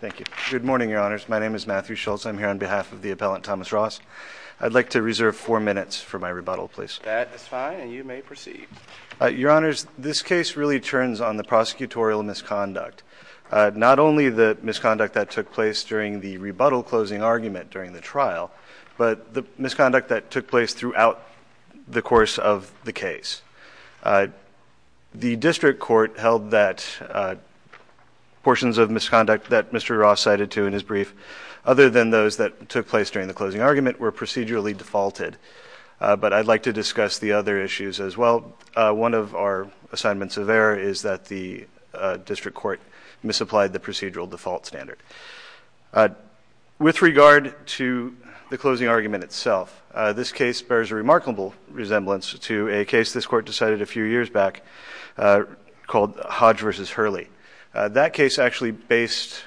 Thank you. Good morning, Your Honors. My name is Matthew Schultz. I'm here on behalf of the appellant, Thomas Ross. I'd like to reserve four minutes for my rebuttal, please. That is fine, and you may proceed. Your Honors, this case really turns on the prosecutorial misconduct. Not only the misconduct that took place during the rebuttal closing argument during the trial, but the misconduct that took place throughout the course of the case. The district court held that portions of misconduct that Mr. Ross cited to in his brief, other than those that took place during the closing argument, were procedurally defaulted. But I'd like to discuss the other issues as well. One of our assignments of error is that the district court misapplied the procedural default standard. With regard to the closing argument itself, this case bears a remarkable resemblance to a case this court decided a few years back called Hodge v. Hurley. That case actually based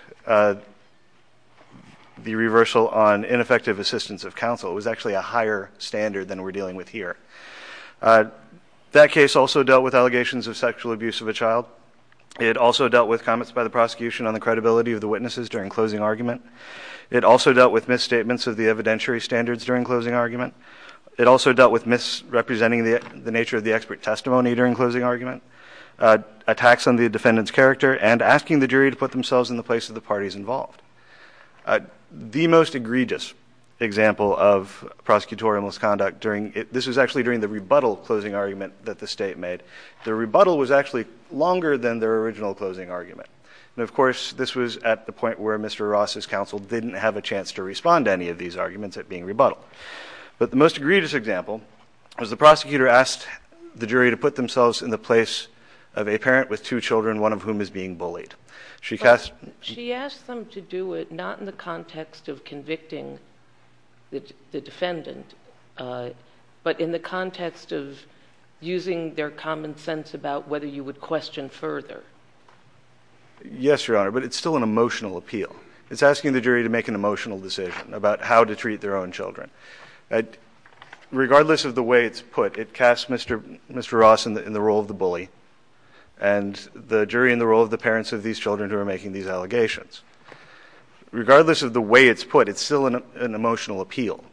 the reversal on ineffective assistance of counsel. It was actually a higher standard than we're dealing with here. That case also dealt with allegations of sexual abuse of a child. It also dealt with comments by the prosecution on the credibility of the witnesses during closing argument. It also dealt with misstatements of the evidentiary standards during closing argument. It also dealt with misrepresenting the nature of the expert testimony during closing argument, attacks on the defendant's character, and asking the jury to put themselves in the place of the parties involved. The most egregious example of prosecutorial misconduct during the rebuttal closing argument that the state made, the rebuttal was actually longer than their original closing argument. And of course, this was at the point where Mr. Ross's counsel didn't have a chance to respond to any of these arguments at being rebuttal. But the most egregious example was the prosecutor asked the jury to put themselves in the place of a parent with two children, one of whom is being bullied. She asked them to do it not in the context of convicting the defendant, but in the context of using their common sense about whether you would question further. Yes, Your Honor, but it's still an emotional appeal. It's asking the jury to make an emotional decision about how to treat their own children. Regardless of the way it's put, it casts Mr. Ross in the role of the bully and the jury in the role of the parents of these children who are making these allegations. Regardless of the way it's put, it's still an emotional appeal.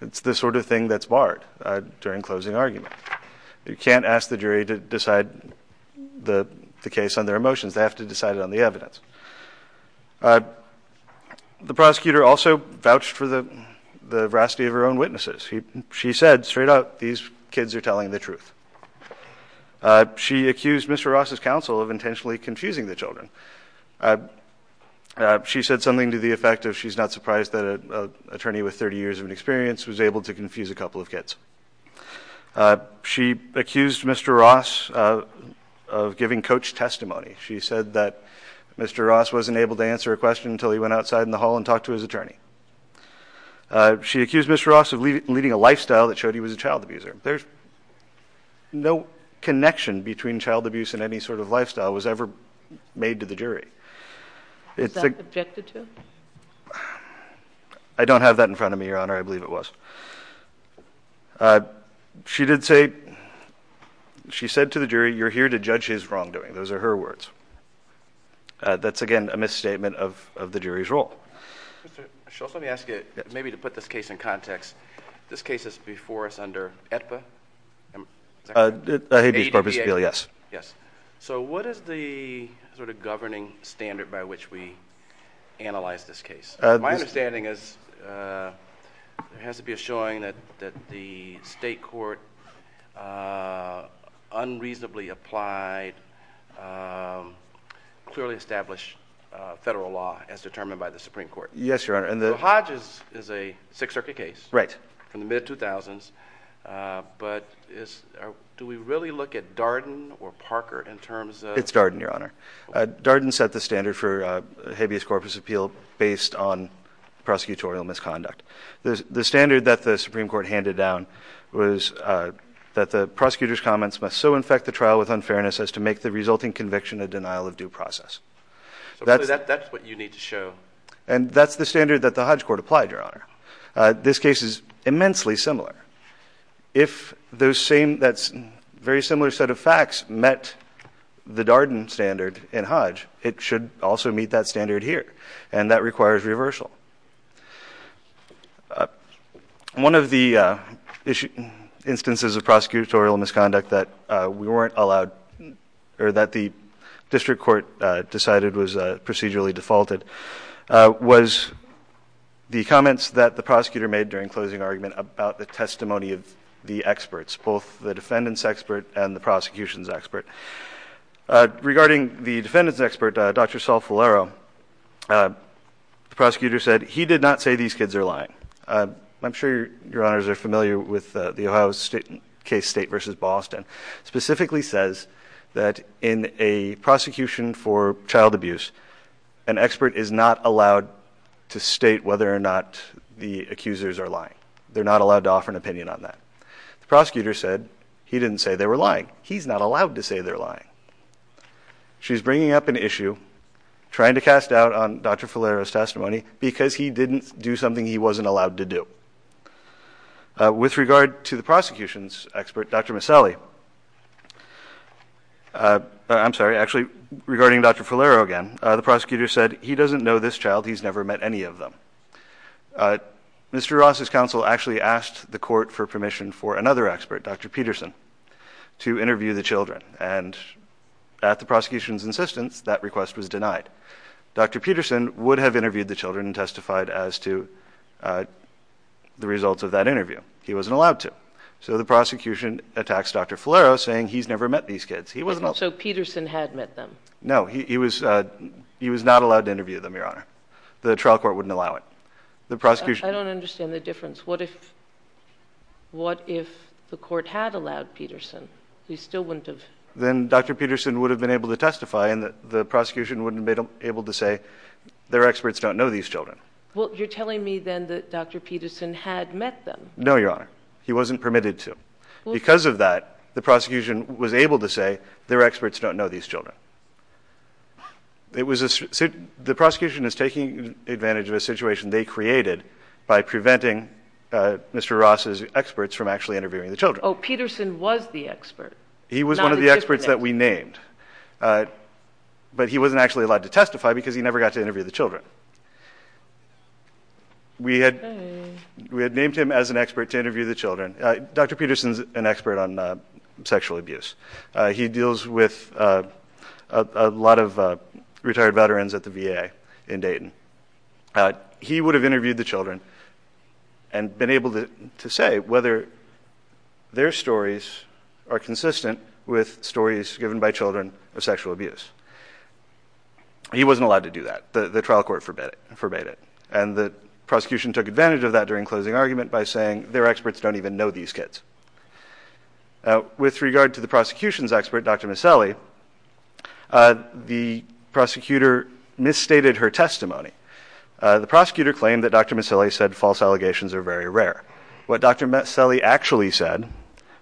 It's the sort of thing that's barred during closing argument. You can't ask the jury to decide the case on their emotions. They have to decide it on the evidence. The prosecutor also vouched for the veracity of her own witnesses. She said straight out, these kids are telling the truth. She accused Mr. Ross' counsel of intentionally confusing the children. She said something to the effect of she's not surprised that an attorney with 30 years of experience was able to confuse a couple of kids. She accused Mr. Ross of giving coach testimony. She said that Mr. Ross wasn't able to answer a question until he went outside in the hall and talked to his attorney. She accused Mr. Ross of leading a lifestyle that showed he was a child abuser. There's no connection between child abuse and any sort of lifestyle that was ever made to the jury. Was that objected to? I don't have that in front of me, Your Honor. I believe it was. She did say, she said to the jury, you're here to judge his wrongdoing. Those are her words. That's again a misstatement of the jury's role. Let me ask you, maybe to put this case in context. This case is before us under Habeas Corpus Appeal. So what is the governing standard by which we analyze this case? My understanding is there has to be a showing that the state court unreasonably applied, clearly established federal law as a Sixth Circuit case from the mid-2000s. But do we really look at Darden or Parker in terms of... It's Darden, Your Honor. Darden set the standard for Habeas Corpus Appeal based on prosecutorial misconduct. The standard that the Supreme Court handed down was that the prosecutor's comments must so infect the trial with unfairness as to make the resulting conviction a denial of due process. So that's what you need to show. And that's the standard that the Hodge Court applied, Your Honor. This case is immensely similar. If those same, that's very similar set of facts met the Darden standard in Hodge, it should also meet that standard here. And that requires reversal. One of the instances of prosecutorial misconduct that we weren't allowed or that the district court decided was procedurally defaulted was the comments that the prosecutor made during closing argument about the testimony of the experts, both the defendant's expert and the prosecution's expert. Regarding the defendant's expert, Dr. Saul Falero, the prosecutor said he did not say these kids are lying. I'm sure Your Honors are familiar with the Ohio State case, State v. Boston, specifically says that in a prosecution for child abuse, an expert is not allowed to state whether or not the accusers are lying. They're not allowed to offer an opinion on that. The prosecutor said he didn't say they were lying. He's not allowed to say they're lying. She's bringing up an issue trying to cast doubt on Dr. Falero's testimony because he didn't do something he wasn't allowed to do. With regard to the prosecution's expert, Dr. Maselli, the prosecution's expert I'm sorry, actually regarding Dr. Falero again, the prosecutor said he doesn't know this child. He's never met any of them. Mr. Ross' counsel actually asked the court for permission for another expert, Dr. Peterson, to interview the children and at the prosecution's insistence that request was denied. Dr. Peterson would have interviewed the children and testified as to the results of that interview. He wasn't allowed to. So the prosecution attacks Dr. Peterson. So Peterson had met them? No, he was not allowed to interview them, Your Honor. The trial court wouldn't allow it. I don't understand the difference. What if the court had allowed Peterson? Then Dr. Peterson would have been able to testify and the prosecution wouldn't have been able to say their experts don't know these children. Well, you're telling me then that Dr. Peterson had met them? No, Your Honor. He wasn't permitted to. Because of that, the prosecution was able to say their experts don't know these children. The prosecution is taking advantage of a situation they created by preventing Mr. Ross' experts from actually interviewing the children. Oh, Peterson was the expert. He was one of the experts that we named. But he wasn't actually allowed to testify because he never got to interview the children. We had named him as an expert to interview the children. Dr. Peterson's an expert on sexual abuse. He deals with a lot of retired veterans at the VA in Dayton. He would have interviewed the children and been able to say whether their stories are consistent with stories given by children of sexual abuse. He wasn't allowed to do that. The trial court forbade it. And the prosecution took advantage of that during closing argument by saying their experts don't even know these kids. With regard to the prosecution's expert, Dr. Maselli, the prosecutor misstated her testimony. The prosecutor claimed that Dr. Maselli said false allegations are very rare. What Dr. Maselli actually said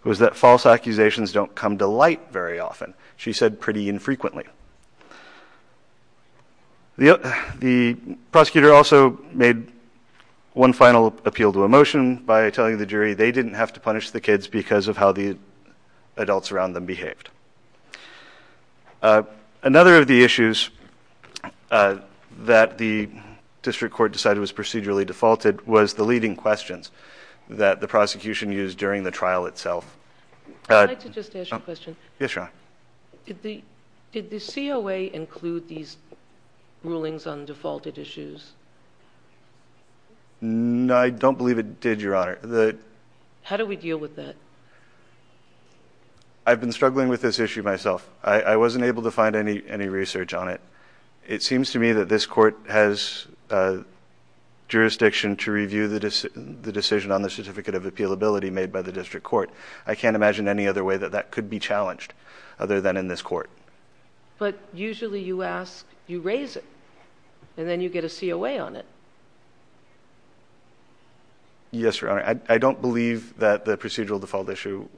was that false accusations don't come to light very often. She said pretty infrequently. The prosecutor also made one final appeal to a motion by telling the jury they didn't have to punish the kids because of how the adults around them behaved. Another of the issues that the district court decided was procedurally defaulted was the leading questions that the prosecution used during the trial itself. I'd like to just ask a question. Yes, Your Honor. Did the COA include these rulings on defaulted issues? No, I don't believe it did, Your Honor. How do we deal with that? I've been struggling with this issue myself. I wasn't able to find any research on it. It seems to me that this court has jurisdiction to review the decision on the certificate of appealability made by the district court. I can't imagine any other way that that could be challenged other than in this court. But usually you ask, you raise it, and then you get a COA on it. Yes, Your Honor. I don't believe that the procedural default issue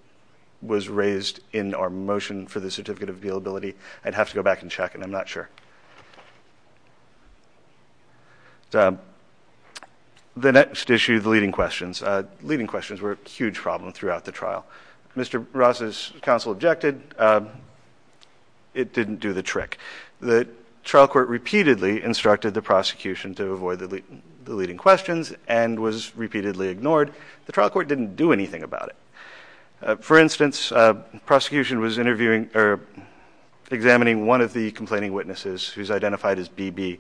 was raised in our motion for the certificate of appealability. I'd have to go back and check, and I'm not sure. The next issue, the leading questions. Leading questions. When Ross's counsel objected, it didn't do the trick. The trial court repeatedly instructed the prosecution to avoid the leading questions and was repeatedly ignored. The trial court didn't do anything about it. For instance, the prosecution was examining one of the complaining witnesses who's identified as BB.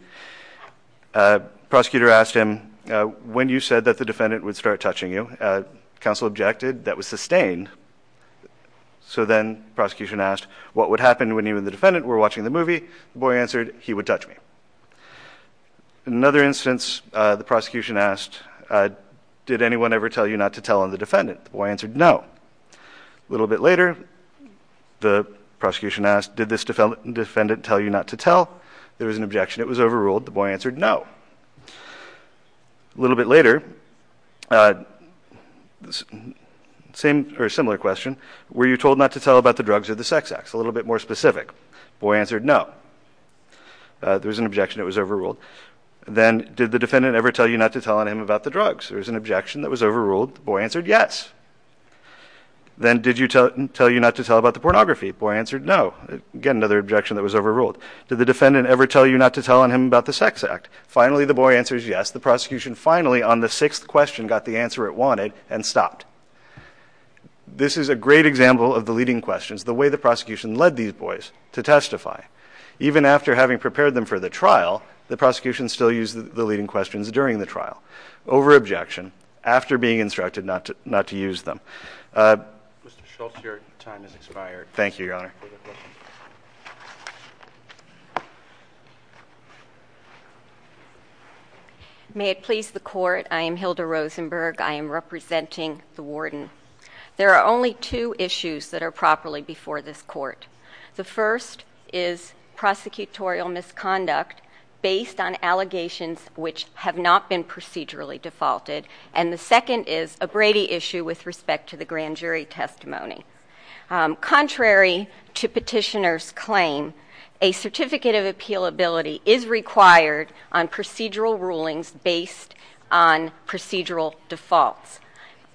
The prosecutor asked him, when you said that the defendant would start touching you, counsel objected. That was sustained. So then the prosecution asked, what would happen when you and the defendant were watching the movie? The boy answered, he would touch me. In another instance, the prosecution asked, did anyone ever tell you not to tell on the defendant? The boy answered, no. A little bit later, the prosecution asked, did this defendant tell you not to tell? There was an objection. It was overruled. The boy answered, no. A little bit later, a similar question. Were you told not to tell about the drugs or the sex acts? A little bit more specific. The boy answered, no. There was an objection. It was overruled. Then, did the defendant ever tell you not to tell on him about the drugs? There was an objection that was overruled. The boy answered, yes. Then did you tell him not to tell about the pornography? The boy answered, no. Again, another objection that was overruled. Did the defendant ever tell you not to tell on him about the sex act? Finally, the boy answers, yes. The prosecution finally, on the sixth question, got the answer it wanted and stopped. This is a great example of the leading questions, the way the prosecution led these boys to testify. Even after having prepared them for the trial, the prosecution still used the leading questions during the trial. Over-objection, after being instructed not to use them. Mr. Schultz, your time has expired. Thank you, Your Honor. May it please the Court, I am Hilda Rosenberg. I am representing the Warden. There are only two issues that are properly before this Court. The first is prosecutorial misconduct based on allegations which have not been procedurally defaulted. The second is a Brady issue with respect to the grand jury testimony. Contrary to petitioner's claim, a certificate of appealability is required on procedural rulings based on procedural defaults.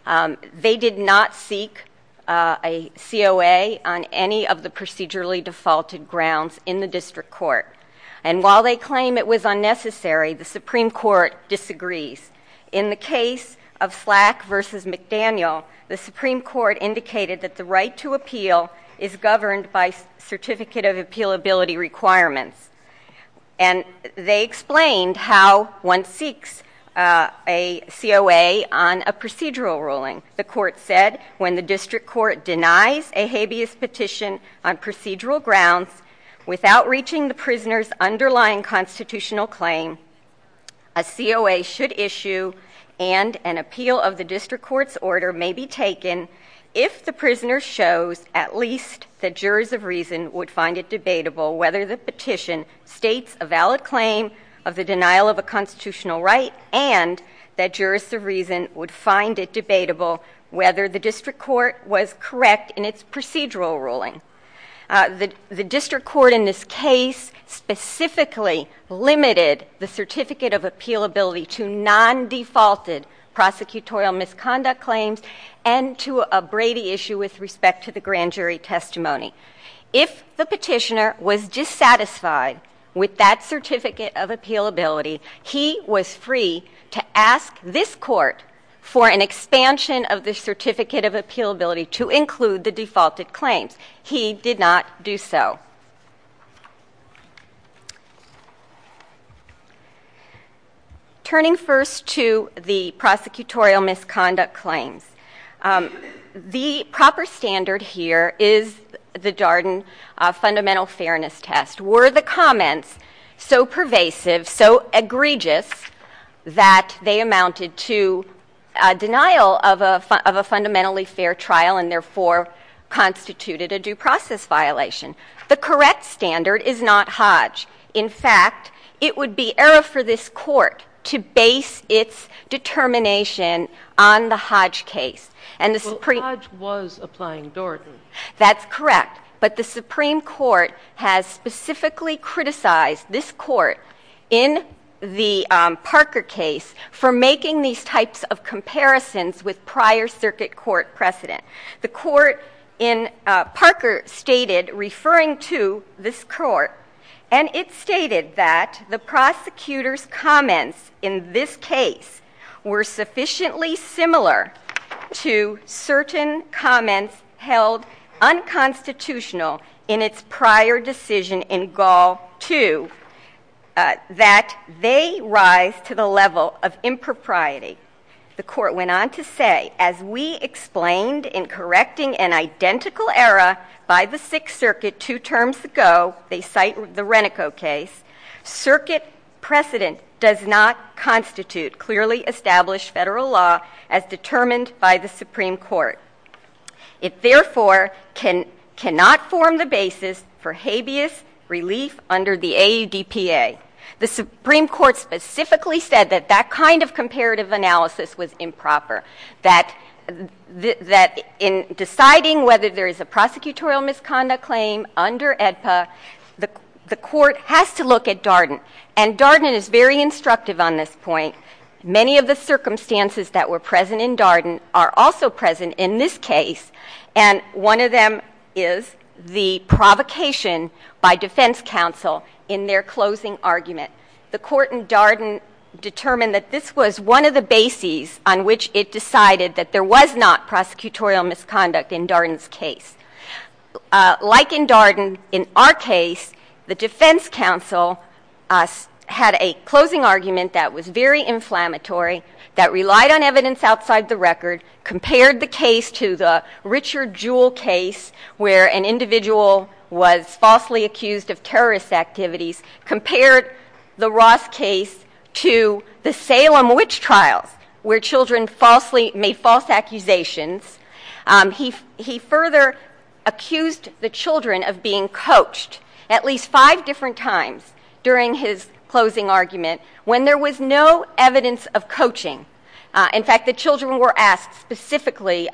They did not seek a COA on any of the procedurally defaulted grounds in the District Court. While they claim it was unnecessary, the Supreme Court disagrees. In the case of Slack v. McDaniel, the Supreme Court indicated that the right to appeal is governed by certificate of appealability requirements. And they explained how one seeks a COA on a procedural ruling. The Court said when the District Court denies a habeas petition on procedural grounds without reaching the prisoner's underlying constitutional claim, a COA should issue and an appeal of the District Court's order may be taken if the prisoner shows at least that jurors of reason would find it debatable whether the petition states a valid claim of the denial of a constitutional right and that jurors of reason would find it debatable whether the District Court was correct in its procedural ruling. The District Court in this case specifically limited the certificate of appealability to non-defaulted prosecutorial misconduct claims and to a Brady issue with respect to the grand jury testimony. If the petitioner was dissatisfied with that certificate of appealability, he was free to ask this Court for an expansion of the certificate of appealability to include the defaulted claims. He did not do so. Turning first to the prosecutorial misconduct claims, the proper standard here is the Darden Fundamental Fairness Test. Were the comments so pervasive, so egregious that they amounted to a denial of a fundamentally fair trial and therefore constituted a due process violation? The correct standard is not Hodge. In fact, it would be error for this Court to base its determination on the Hodge case and the Supreme Court has specifically criticized this Court in the Parker case for making these types of comparisons with prior circuit court precedent. The Court in Parker stated, referring to this Court, and it stated that the prosecutor's comments in this case were sufficiently similar to certain comments held unconstitutional in its prior decision in Gall 2, that they rise to the level of impropriety. The Court went on to say, as we explained in correcting an identical error by the Sixth Circuit two terms ago, they cite the Renico case, circuit precedent does not constitute clearly established federal law as determined by the Supreme Court. It therefore cannot form the basis for habeas relief under the AUDPA. The Supreme Court specifically said that that kind of comparative analysis was improper, that in deciding whether there is a prosecutorial misconduct claim under AEDPA, the Court has to look at Darden and Darden is very instructive on this point. Many of the circumstances that were present in Darden are also present in this case and one of them is the provocation by defense counsel in their closing argument. The Court in Darden determined that this was one of the bases on which it decided that there was not prosecutorial misconduct in Darden's case. Like in Darden, in our case, the defense counsel had a closing argument that was very inflammatory, that relied on evidence outside the record, compared the case to the Richard Jewell case where an individual was falsely accused of terrorist activities, compared the Ross case to the Salem witch trials where children made false accusations. He further accused the children of being coached at least five different times during his closing argument when there was no evidence of coaching. In fact, the children were asked specifically,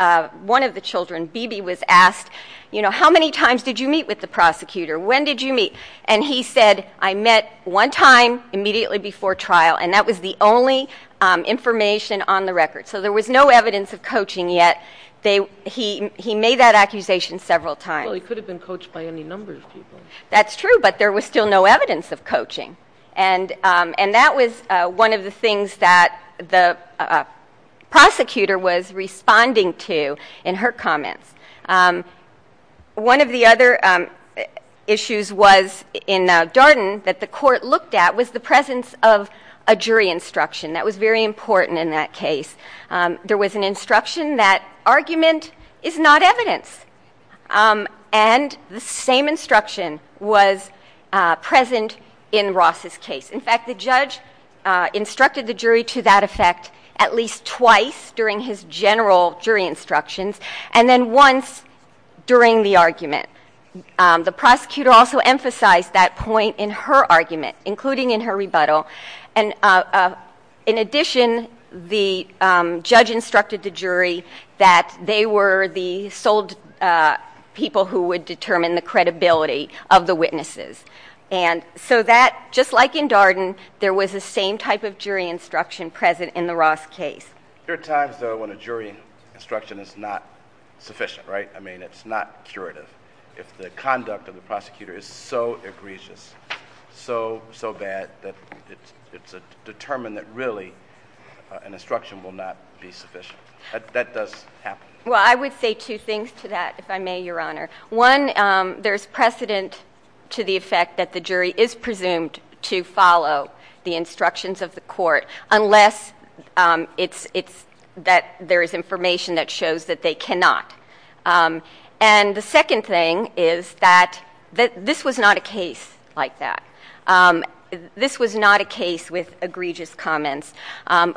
one of the children, Bebe, was asked, you know, how many times did you meet with the prosecutor? When did you meet? And he said, I met one time immediately before trial and that was the only information on the record. So there was no evidence of coaching yet. He made that accusation several times. Well, he could have been coached by any number of people. That's true, but there was still no evidence of coaching. And that was one of the things that the prosecutor was responding to in her comments. One of the other issues was in Darden that the court looked at was the presence of a jury instruction. That was very important in that case. There was an instruction that argument is not evidence. And the same instruction was present in Ross's case. In fact, the judge instructed the jury to that effect at least twice during his general jury instructions and then once during the argument. The prosecutor also emphasized that point in her argument, including in her rebuttal. And in addition, the judge instructed the jury that they were the sole people who would determine the credibility of the witnesses. And so that, just like in Darden, there was the same type of jury instruction present in the Ross case. There are times though when a jury instruction is not sufficient, right? I mean, it's not curative. If the conduct of the prosecutor is so egregious, so, so bad that it's determined that really an instruction will not be sufficient. That does happen. Well, I would say two things to that, if I could. One, there's precedent to the effect that the jury is presumed to follow the instructions of the court unless it's, it's, that there is information that shows that they cannot. And the second thing is that this was not a case like that. This was not a case with egregious comments.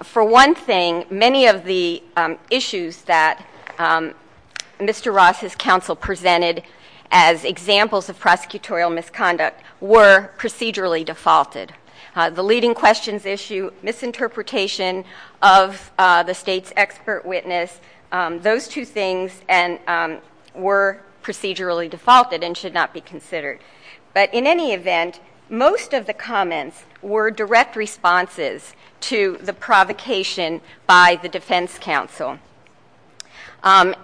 For one thing, many of the issues that Mr. Ross's counsel presented as examples of prosecutorial misconduct were procedurally defaulted. The leading questions issue, misinterpretation of the state's expert witness, those two things were procedurally defaulted and should not be considered. But in any event, most of the comments were direct responses to the provocation by the defense counsel. And,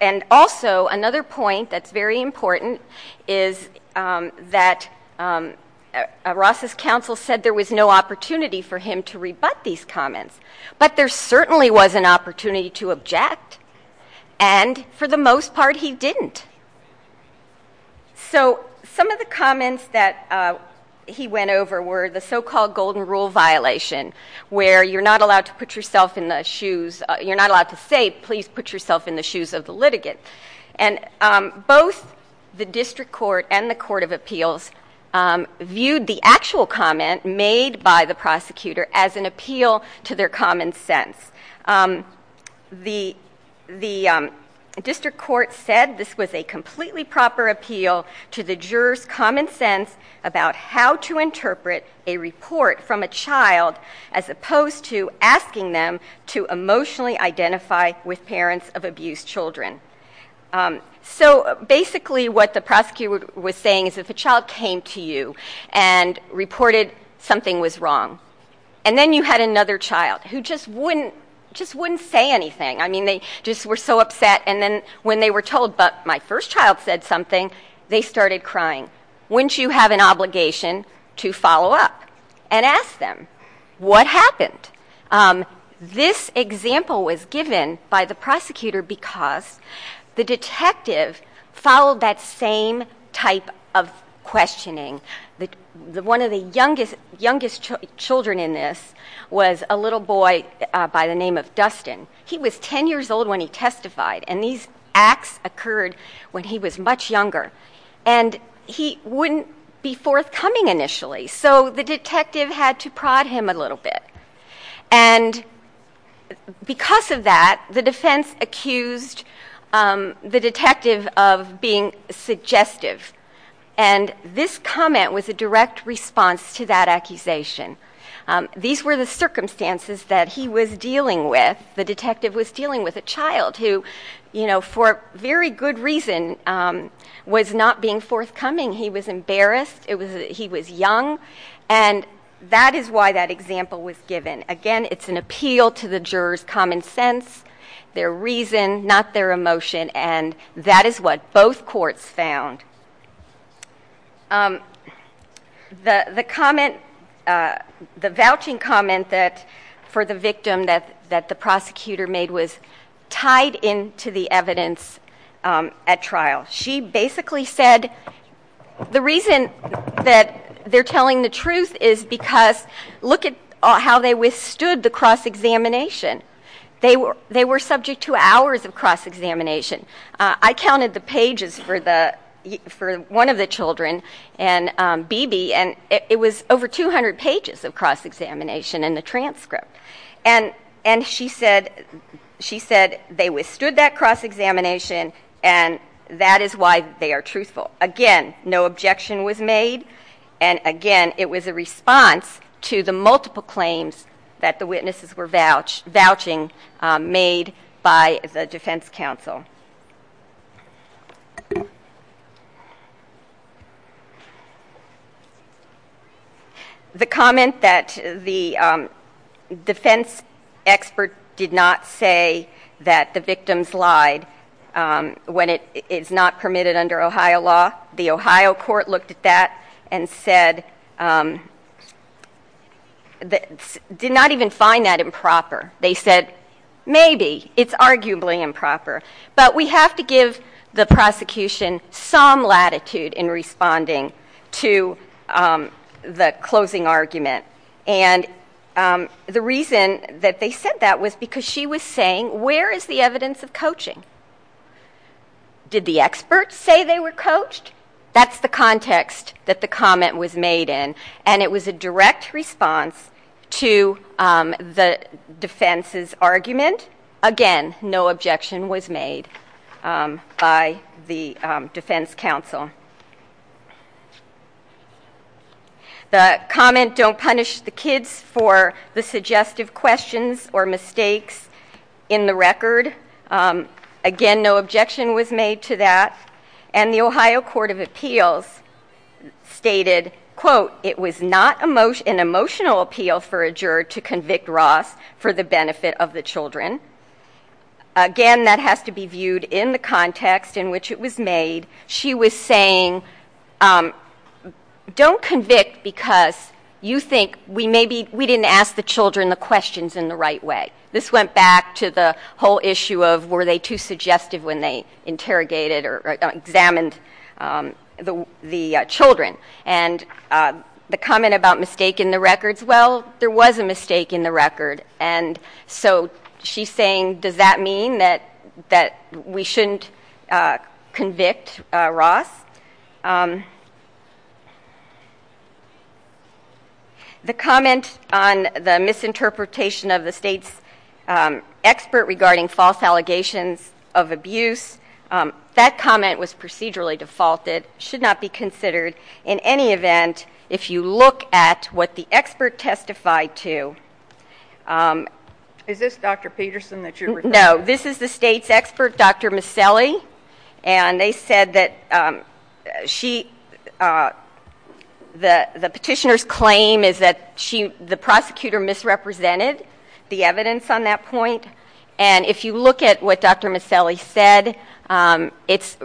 and also another point that is very important is that Ross's counsel said there was no opportunity for him to rebut these comments, but there certainly was an opportunity to object. And for the most part, he didn't. So some of the comments that he went over were the so-called golden rule violation where you're not allowed to put yourself in the shoes, you're not allowed to say, please put yourself in the shoes of the litigant. And, um, both the district court and the court of appeals, um, viewed the actual comment made by the prosecutor as an appeal to their common sense. Um, the, the, um, district court said this was a completely proper appeal to the juror's common sense about how to interpret a report from a child as opposed to asking them to emotionally identify with parents of abused children. Um, so basically what the prosecutor was saying is if a child came to you and reported something was wrong and then you had another child who just wouldn't, just wouldn't say anything. I mean, they just were so upset. And then when they were told, but my first child said something, they started crying. Wouldn't you have an obligation to follow up and ask them what happened? Um, this example was given by the prosecutor because the detective followed that same type of questioning. The one of the youngest, youngest children in this was a little boy by the name of Dustin. He was 10 years old when he testified and these acts occurred when he was much younger and he wouldn't be forthcoming initially. So the detective had to prod him a little bit. And because of that, the defense accused, um, the detective of being suggestive. And this comment was a direct response to that accusation. Um, these were the circumstances that he was dealing with. The detective was dealing with a child who, you know, for very good reason, um, was not being forthcoming. He was embarrassed. It was, he was young and that is why that example was given. Again, it's an appeal to the jurors common sense, their reason, not their emotion. And that is what both courts found. Um, the, the comment, uh, the vouching comment that for the victim that, that the prosecutor made was tied into the evidence, um, at trial. She basically said the reason that they're telling the truth is because look at how they withstood the cross-examination. They were, they were subject to hours of cross-examination. Uh, I counted the pages for the, for one of the children and, um, BB and it was over 200 pages of cross-examination and the transcript. And, and she said, she said they withstood that cross-examination and that is why they are truthful. Again, no objection was made. And again, it was a response to the multiple claims that the witnesses were vouched, vouching, um, made by the defense counsel. The comment that the, um, defense expert did not say that the victims lied, um, when it is not permitted under Ohio law. The Ohio court looked at that and said, um, that did not even find that improper. They said, maybe it's arguably improper, but we have to give the prosecution some latitude in responding to, um, the closing argument. And, um, the reason that they said that was because she was saying, where is the evidence of coaching? Did the experts say they were coached? That's the context that the comment was made in. And it was a direct response to, um, the defense's argument. Again, no objection was made, um, by the, um, defense counsel. The comment, don't punish the kids for the suggestive questions or mistakes, in the record. Um, again, no objection was made to that. And the Ohio court of appeals stated, quote, it was not an emotional appeal for a juror to convict Ross for the benefit of the children. Again, that has to be viewed in the context in which it was made. She was saying, um, don't convict because you think we maybe, we didn't ask the children the questions in the right way. This went back to the whole issue of, were they too suggestive when they interrogated or examined, um, the, the, uh, children. And, uh, the comment about mistake in the records, well, there was a mistake in the record. And so she's saying, does that mean that, that we shouldn't, uh, convict, uh, Ross? Um, the comment on the misinterpretation of the state's, um, expert regarding false allegations of abuse, um, that comment was procedurally defaulted, should not be considered. In any event, if you look at what the expert testified to, um. Is this Dr. Peterson that you're referring to? No, this is the state's expert, Dr. Maselli. And they said that, um, she, uh, the, the petitioner's claim is that she, the prosecutor misrepresented the evidence on that point. And if you look at what Dr. Maselli said, um, it's,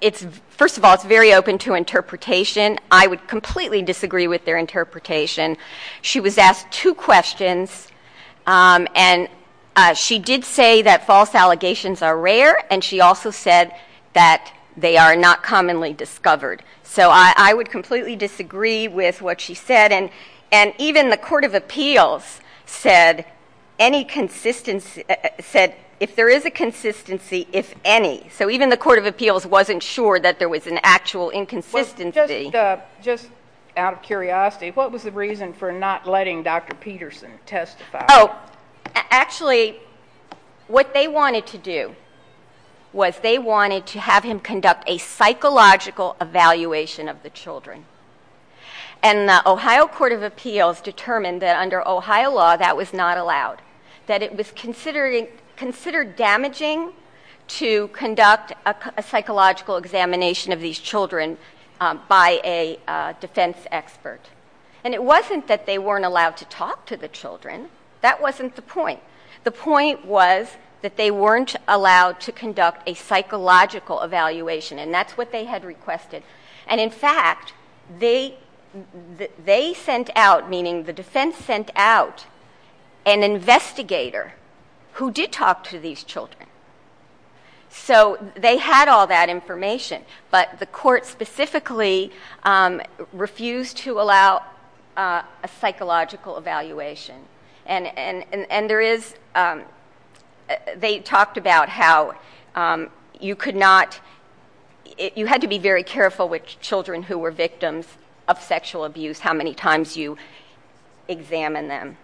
it's, first of all, it's very open to interpretation. I would completely disagree with their interpretation. She was asked two questions, um, and, uh, she did say that false allegations are rare. And she also said that they are not commonly discovered. So I, I would completely disagree with what she said. And, and even the court of appeals said any consistency, said if there is a consistency, if any. So even the court of appeals wasn't sure that there was an actual inconsistency. Just, uh, just out of curiosity, what was the reason for not letting Dr. Peterson testify? Oh, actually what they wanted to do was they wanted to have him conduct a psychological evaluation of the children. And the Ohio court of appeals determined that under Ohio law, that was not allowed, that it was considering, considered damaging to conduct a psychological examination of these children, um, by a, uh, defense expert. And it wasn't that they weren't allowed to talk to the children. That wasn't the point. The point was that they weren't allowed to conduct a psychological evaluation. And that's what they had requested. And in fact, they, they sent out, meaning the defense sent out an investigator who did talk to these children. So they had all that information, but the court specifically, um, refused to allow a psychological evaluation. And, and, and, and there is, um, they talked about how, um, you could not, you had to be very careful with children who were victims of sexual abuse, how many times you examine them.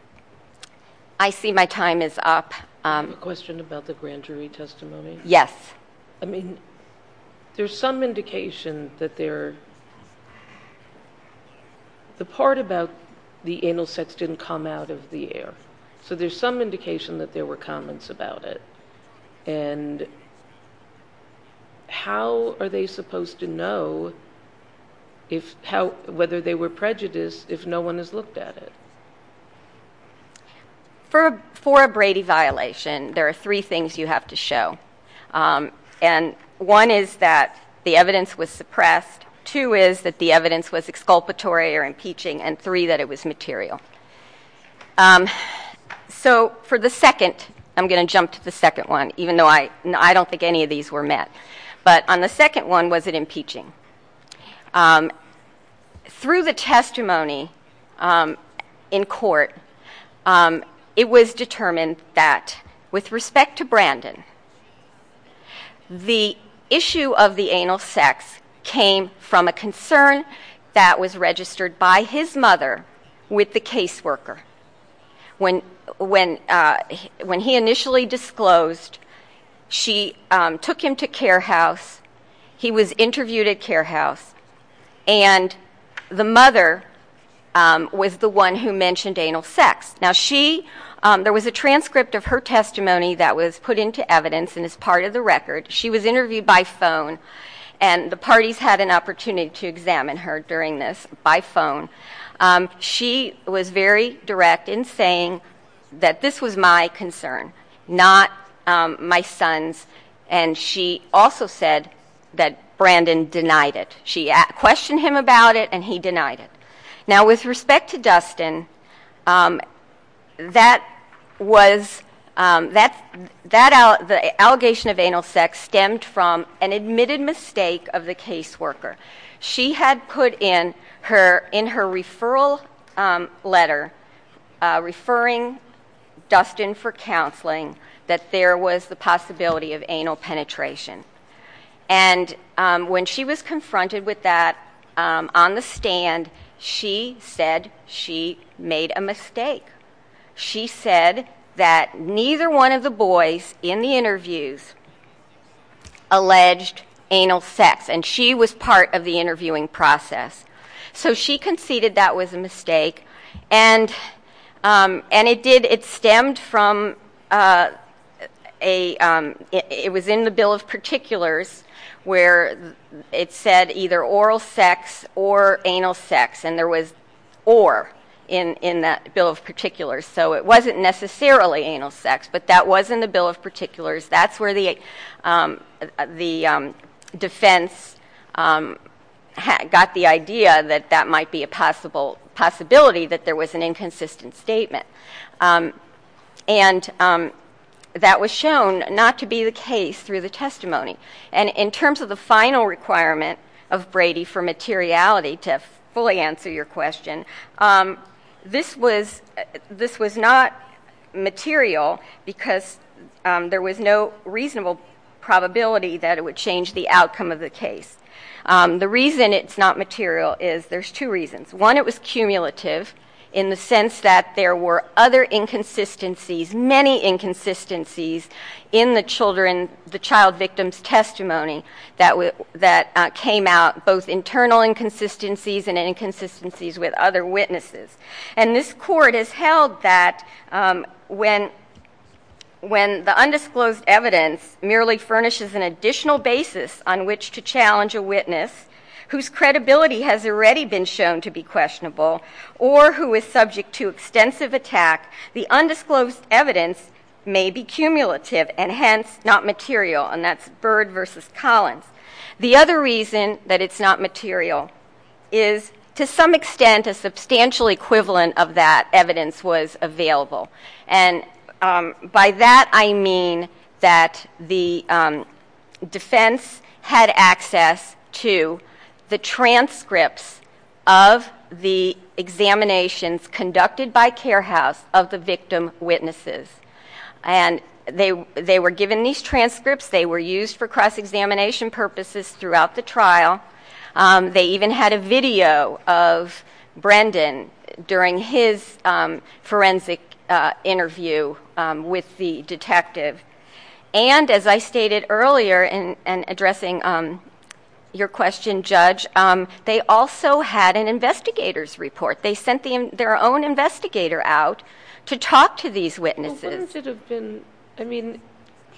I see my time is up. Um, a question about the grand jury testimony. Yes. I mean, there's some indication that there, the part about the anal sex didn't come out of the air. So there's some indication that there were comments about it and how are they supposed to know if how, whether they were prejudiced, if no one has looked at it for, for a Brady violation, there are three things you have to show. Um, and one is that the evidence was suppressed. Two is that the evidence was exculpatory or impeaching and three that it was material. Um, so for the second, I'm going to jump to the second one, even though I, I don't think any of these were met, but on the second one, was it impeaching? Um, through the testimony, um, in court, um, it was determined that with respect to Brandon, the issue of the anal sex came from a concern that was registered by his mother with the caseworker when, when, uh, when he initially disclosed, she, um, took him to care house. He was interviewed at care house and the mother, um, was the one who mentioned anal sex. Now she, um, there was a transcript of her testimony that was put into evidence and as part of the record, she was interviewed by phone and the parties had an opportunity to examine her during this by phone. Um, she was very direct in saying that this was my concern, not my son's. And she also said that Brandon denied it. She questioned him about it and he denied it. Now with respect to Dustin, um, that was, um, that, that out, the allegation of anal sex stemmed from an admitted mistake of the caseworker. She had put in her, in her referral, um, letter, uh, referring Dustin for counseling, that there was the possibility of anal penetration. And, um, when she was confronted with that, um, on the stand, she said she made a mistake. She said that neither one of the boys in the interviews alleged anal sex and she was part of the interviewing process. So she conceded that was a mistake and, um, and it did, it stemmed from, uh, a, um, it was in the bill of particulars where it said either oral sex or anal sex. And there was or in, in that bill of particulars. So it wasn't necessarily anal sex, but that was in the bill of particulars. That's where the, um, the, um, defense, um, had got the idea that that might be a possible possibility that there was an inconsistent statement. Um, and, um, that was shown not to be the case through the testimony. And in terms of the final requirement of Brady for materiality to fully answer your question, um, this was, this was not material because, um, there was no reasonable probability that it would change the outcome of the case. Um, the reason it's not material is there's two reasons. One, it was cumulative in the sense that there were other inconsistencies, many inconsistencies in the children, the child victim's testimony that would, that came out both internal inconsistencies and inconsistencies with other witnesses. And this court has held that, um, when, when the undisclosed evidence merely furnishes an additional basis on which to challenge a witness whose credibility has already been shown to be questionable or who is subject to extensive attack, the undisclosed evidence may be cumulative and hence not material. And that's Byrd versus Collins. The other reason that it's not material is to some extent a substantial equivalent of that evidence was available. And, um, by that I mean that the, um, defense had access to the transcripts of the examinations conducted by care house of the victim witnesses. And they, they were given these transcripts, they were used for cross-examination purposes throughout the forensic interview with the detective. And as I stated earlier in, in addressing, um, your question, judge, um, they also had an investigator's report. They sent the, their own investigator out to talk to these witnesses. Well, wouldn't it have been, I mean,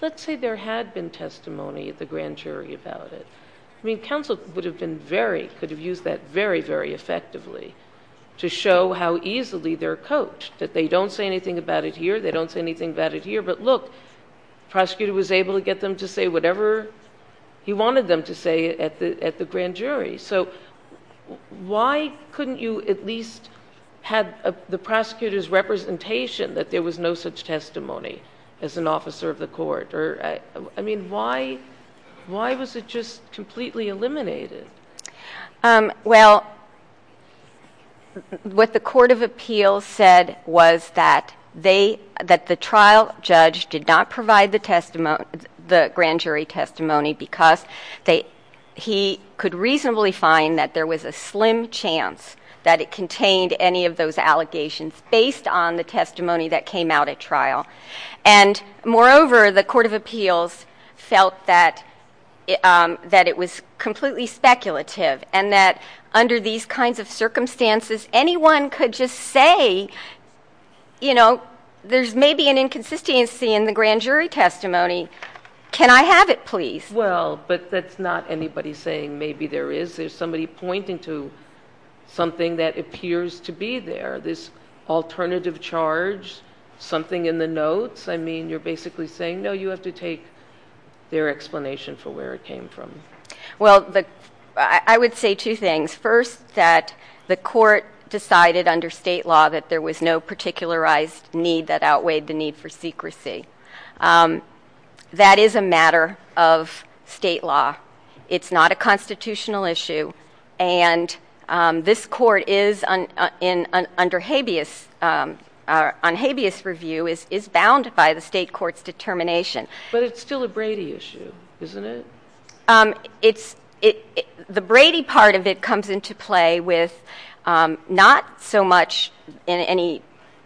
let's say there had been testimony at the grand jury about it. I mean, counsel would have been very, could have used that very, very much that they don't say anything about it here. They don't say anything about it here, but look, prosecutor was able to get them to say whatever he wanted them to say at the, at the grand jury. So why couldn't you at least have the prosecutor's representation that there was no such testimony as an officer of the court or, I mean, why, why was it just completely eliminated? Um, well, what the court of appeals said was that they, that the trial judge did not provide the testimony, the grand jury testimony, because they, he could reasonably find that there was a slim chance that it contained any of those allegations based on the testimony that came out at trial. And moreover, the court of appeals felt that, um, that it was completely speculative and that under these kinds of circumstances, anyone could just say, you know, there's maybe an inconsistency in the grand jury testimony. Can I have it please? Well, but that's not anybody saying maybe there is, there's somebody pointing to something that appears to be there, this alternative charge, something in the notes. I mean, you're basically saying, no, you have to take their explanation for where it came from. Well, the, I would say two things. First, that the court decided under state law that there was no particularized need that outweighed the need for secrecy. Um, that is a matter of state law. It's not a constitutional issue. And, um, this court is under habeas, on habeas review is, is bound by the state court's determination. But it's still a Brady issue, isn't it? Um, it's, it, the Brady part of it comes into play with, um, not so much in any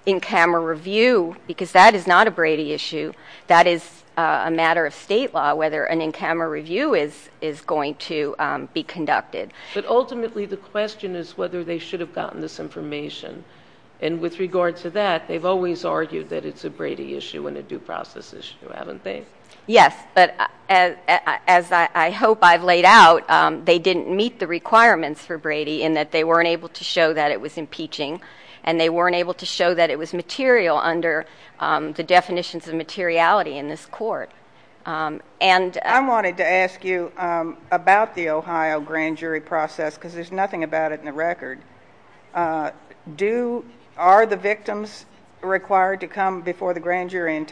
in-camera review because that is not a Brady issue. That is a matter of state law, whether an in-camera review is, is going to, um, be conducted. But ultimately the question is whether they should have gotten this information. And with regard to that, they've always argued that it's a Brady issue and a due process issue, haven't they? Yes. But as, as I hope I've laid out, um, they didn't meet the requirements for Brady in that they weren't able to show that it was impeaching and they weren't able to show that it was material under, um, the definitions of materiality in this court. Um, and I wanted to ask you, um, about the Ohio grand jury process, cause there's nothing about it in the record. Uh, do, are the victims required to come before the grand jury and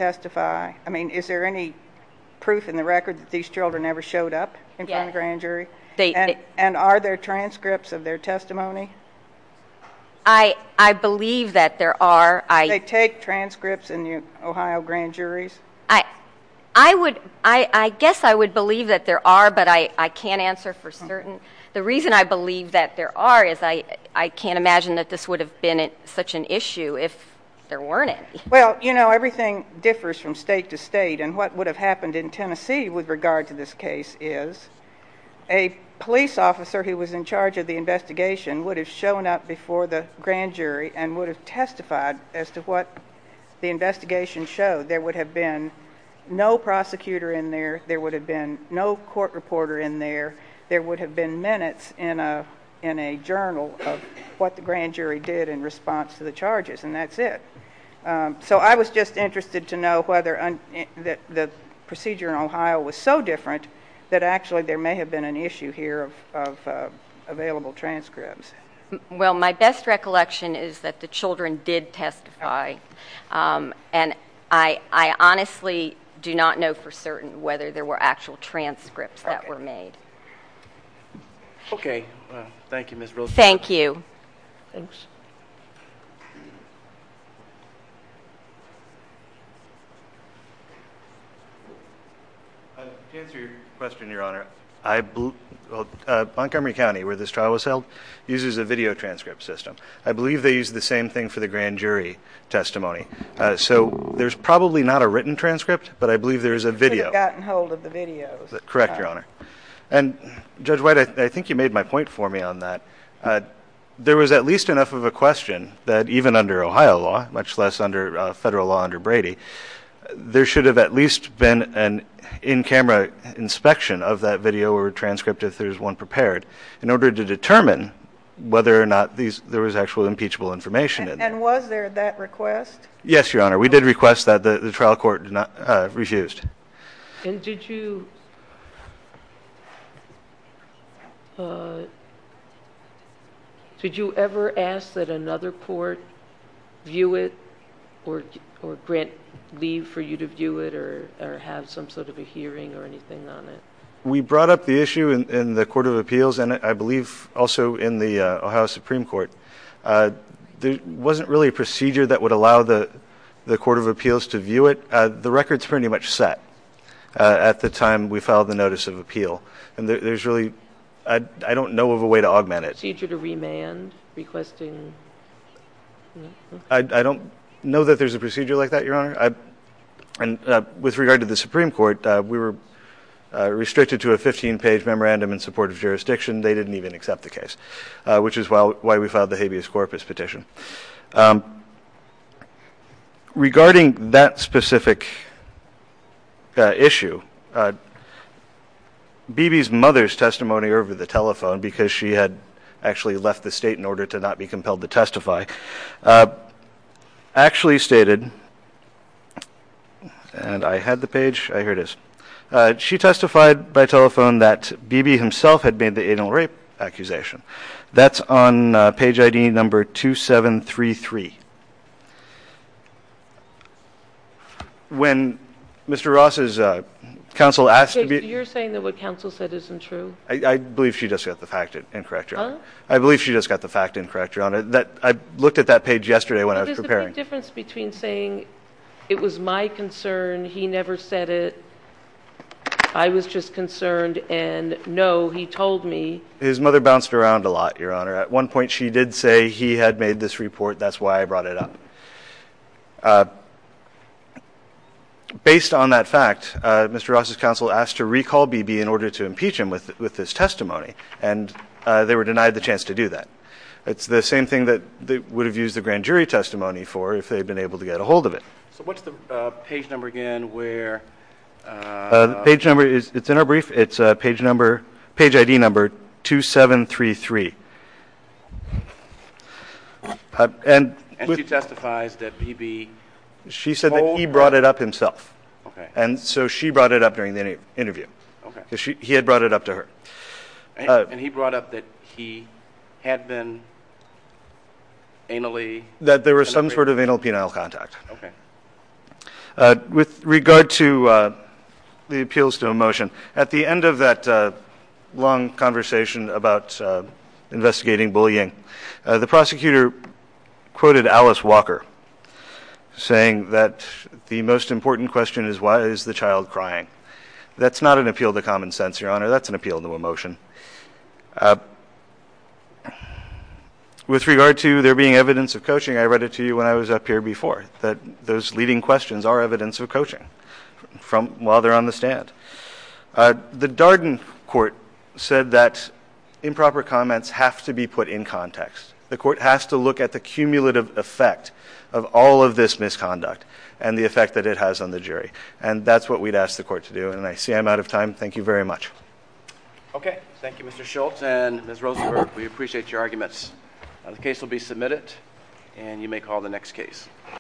proof in the record that these children never showed up in front of the grand jury? And are there transcripts of their testimony? I, I believe that there are. Do they take transcripts in the Ohio grand juries? I, I would, I, I guess I would believe that there are, but I, I can't answer for certain. The reason I believe that there are is I, I can't imagine that this would have been such an issue if there weren't any. Well, you know, everything differs from state to state and what would have happened in Tennessee with regard to this case is a police officer who was in charge of the investigation would have shown up before the grand jury and would have testified as to what the investigation showed. There would have been no prosecutor in there. There would have been no court reporter in there. There would have been minutes in a, in a journal of what the grand jury did in response to the charges and that's it. So I was just interested to know whether that the procedure in Ohio was so different that actually there may have been an issue here of, of available transcripts. Well, my best recollection is that the children did testify. And I, I honestly do not know for certain whether there were actual transcripts that were made. Okay. Well, thank you, Ms. Roosevelt. Thank you. Thanks. To answer your question, Your Honor, I, well, Montgomery County, where this trial was held, uses a video transcript system. I believe they use the same thing for the grand jury testimony. So there's probably not a written transcript, but I believe there's a video. You should have gotten hold of the videos. Correct, Your Honor. And Judge White, I think you made my point for me on that. There was at least enough of a question that even under Ohio law, much less under federal law under Brady, there should have at least been an in-camera inspection of that video or transcript if there's one prepared in order to determine whether or not these, there was actual impeachable information. And was there that request? Yes, Your Honor. We did request that the trial court did not refused. And did you, did you ever ask that another court view it or grant leave for you to view it or have some sort of a hearing or anything on it? We brought up the issue in the Court of Appeals and I believe also in the Ohio Supreme Court. There wasn't really a procedure that would allow the Court of Appeals to view it. The record's pretty much set at the time we filed the Notice of Appeal. And there's really, I don't know of a way to augment it. Procedure to remand, requesting? I don't know that there's a procedure like that, Your Honor. And with regard to the Supreme Court, we were restricted to a 15-page memorandum in support of jurisdiction. They didn't even accept the case, which is why we filed the habeas corpus petition. Regarding that specific issue, Bibi's mother's testimony over the telephone, because she had actually left the state in order to not be compelled to testify, actually stated, and I had the page, here it is. She testified by telephone that Bibi himself had made the When Mr. Ross' counsel asked to be... You're saying that what counsel said isn't true? I believe she just got the fact incorrect, Your Honor. I believe she just got the fact incorrect, Your Honor. I looked at that page yesterday when I was preparing. It was the big difference between saying it was my concern, he never said it, I was just concerned, and no, he told me... His mother bounced around a lot, Your Honor. At one point she did say he had made this report, that's why I brought it up. Based on that fact, Mr. Ross' counsel asked to recall Bibi in order to impeach him with his testimony, and they were denied the chance to do that. It's the same thing that they would have used the grand jury testimony for if they had been able to get a hold of it. So what's the page number again where... Page number, it's in our brief, it's page ID number 2733. And she testifies that Bibi... She said that he brought it up himself, and so she brought it up during the interview. He had brought it up to her. And he brought up that he had been anally... That there was some sort of anal-penile contact. Okay. With regard to the appeals to a motion, at the end of that long conversation about investigating bullying, the prosecutor quoted Alice Walker, saying that the most important question is why is the child crying? That's not an appeal to common sense, Your Honor, that's an appeal to a motion. With regard to there being evidence of coaching, I read it to you when I was up here before, that those leading questions are evidence of coaching while they're on the stand. The Darden court said that improper comments have to be put in context. The court has to look at the cumulative effect of all of this misconduct and the effect that it has on the jury. And that's what we'd ask the court to do. And I see I'm out of time. Thank you very much. Okay. Thank you, Mr. Schultz. And Ms. Rosenberg, we appreciate your arguments. The case will be submitted, and you may call the next case.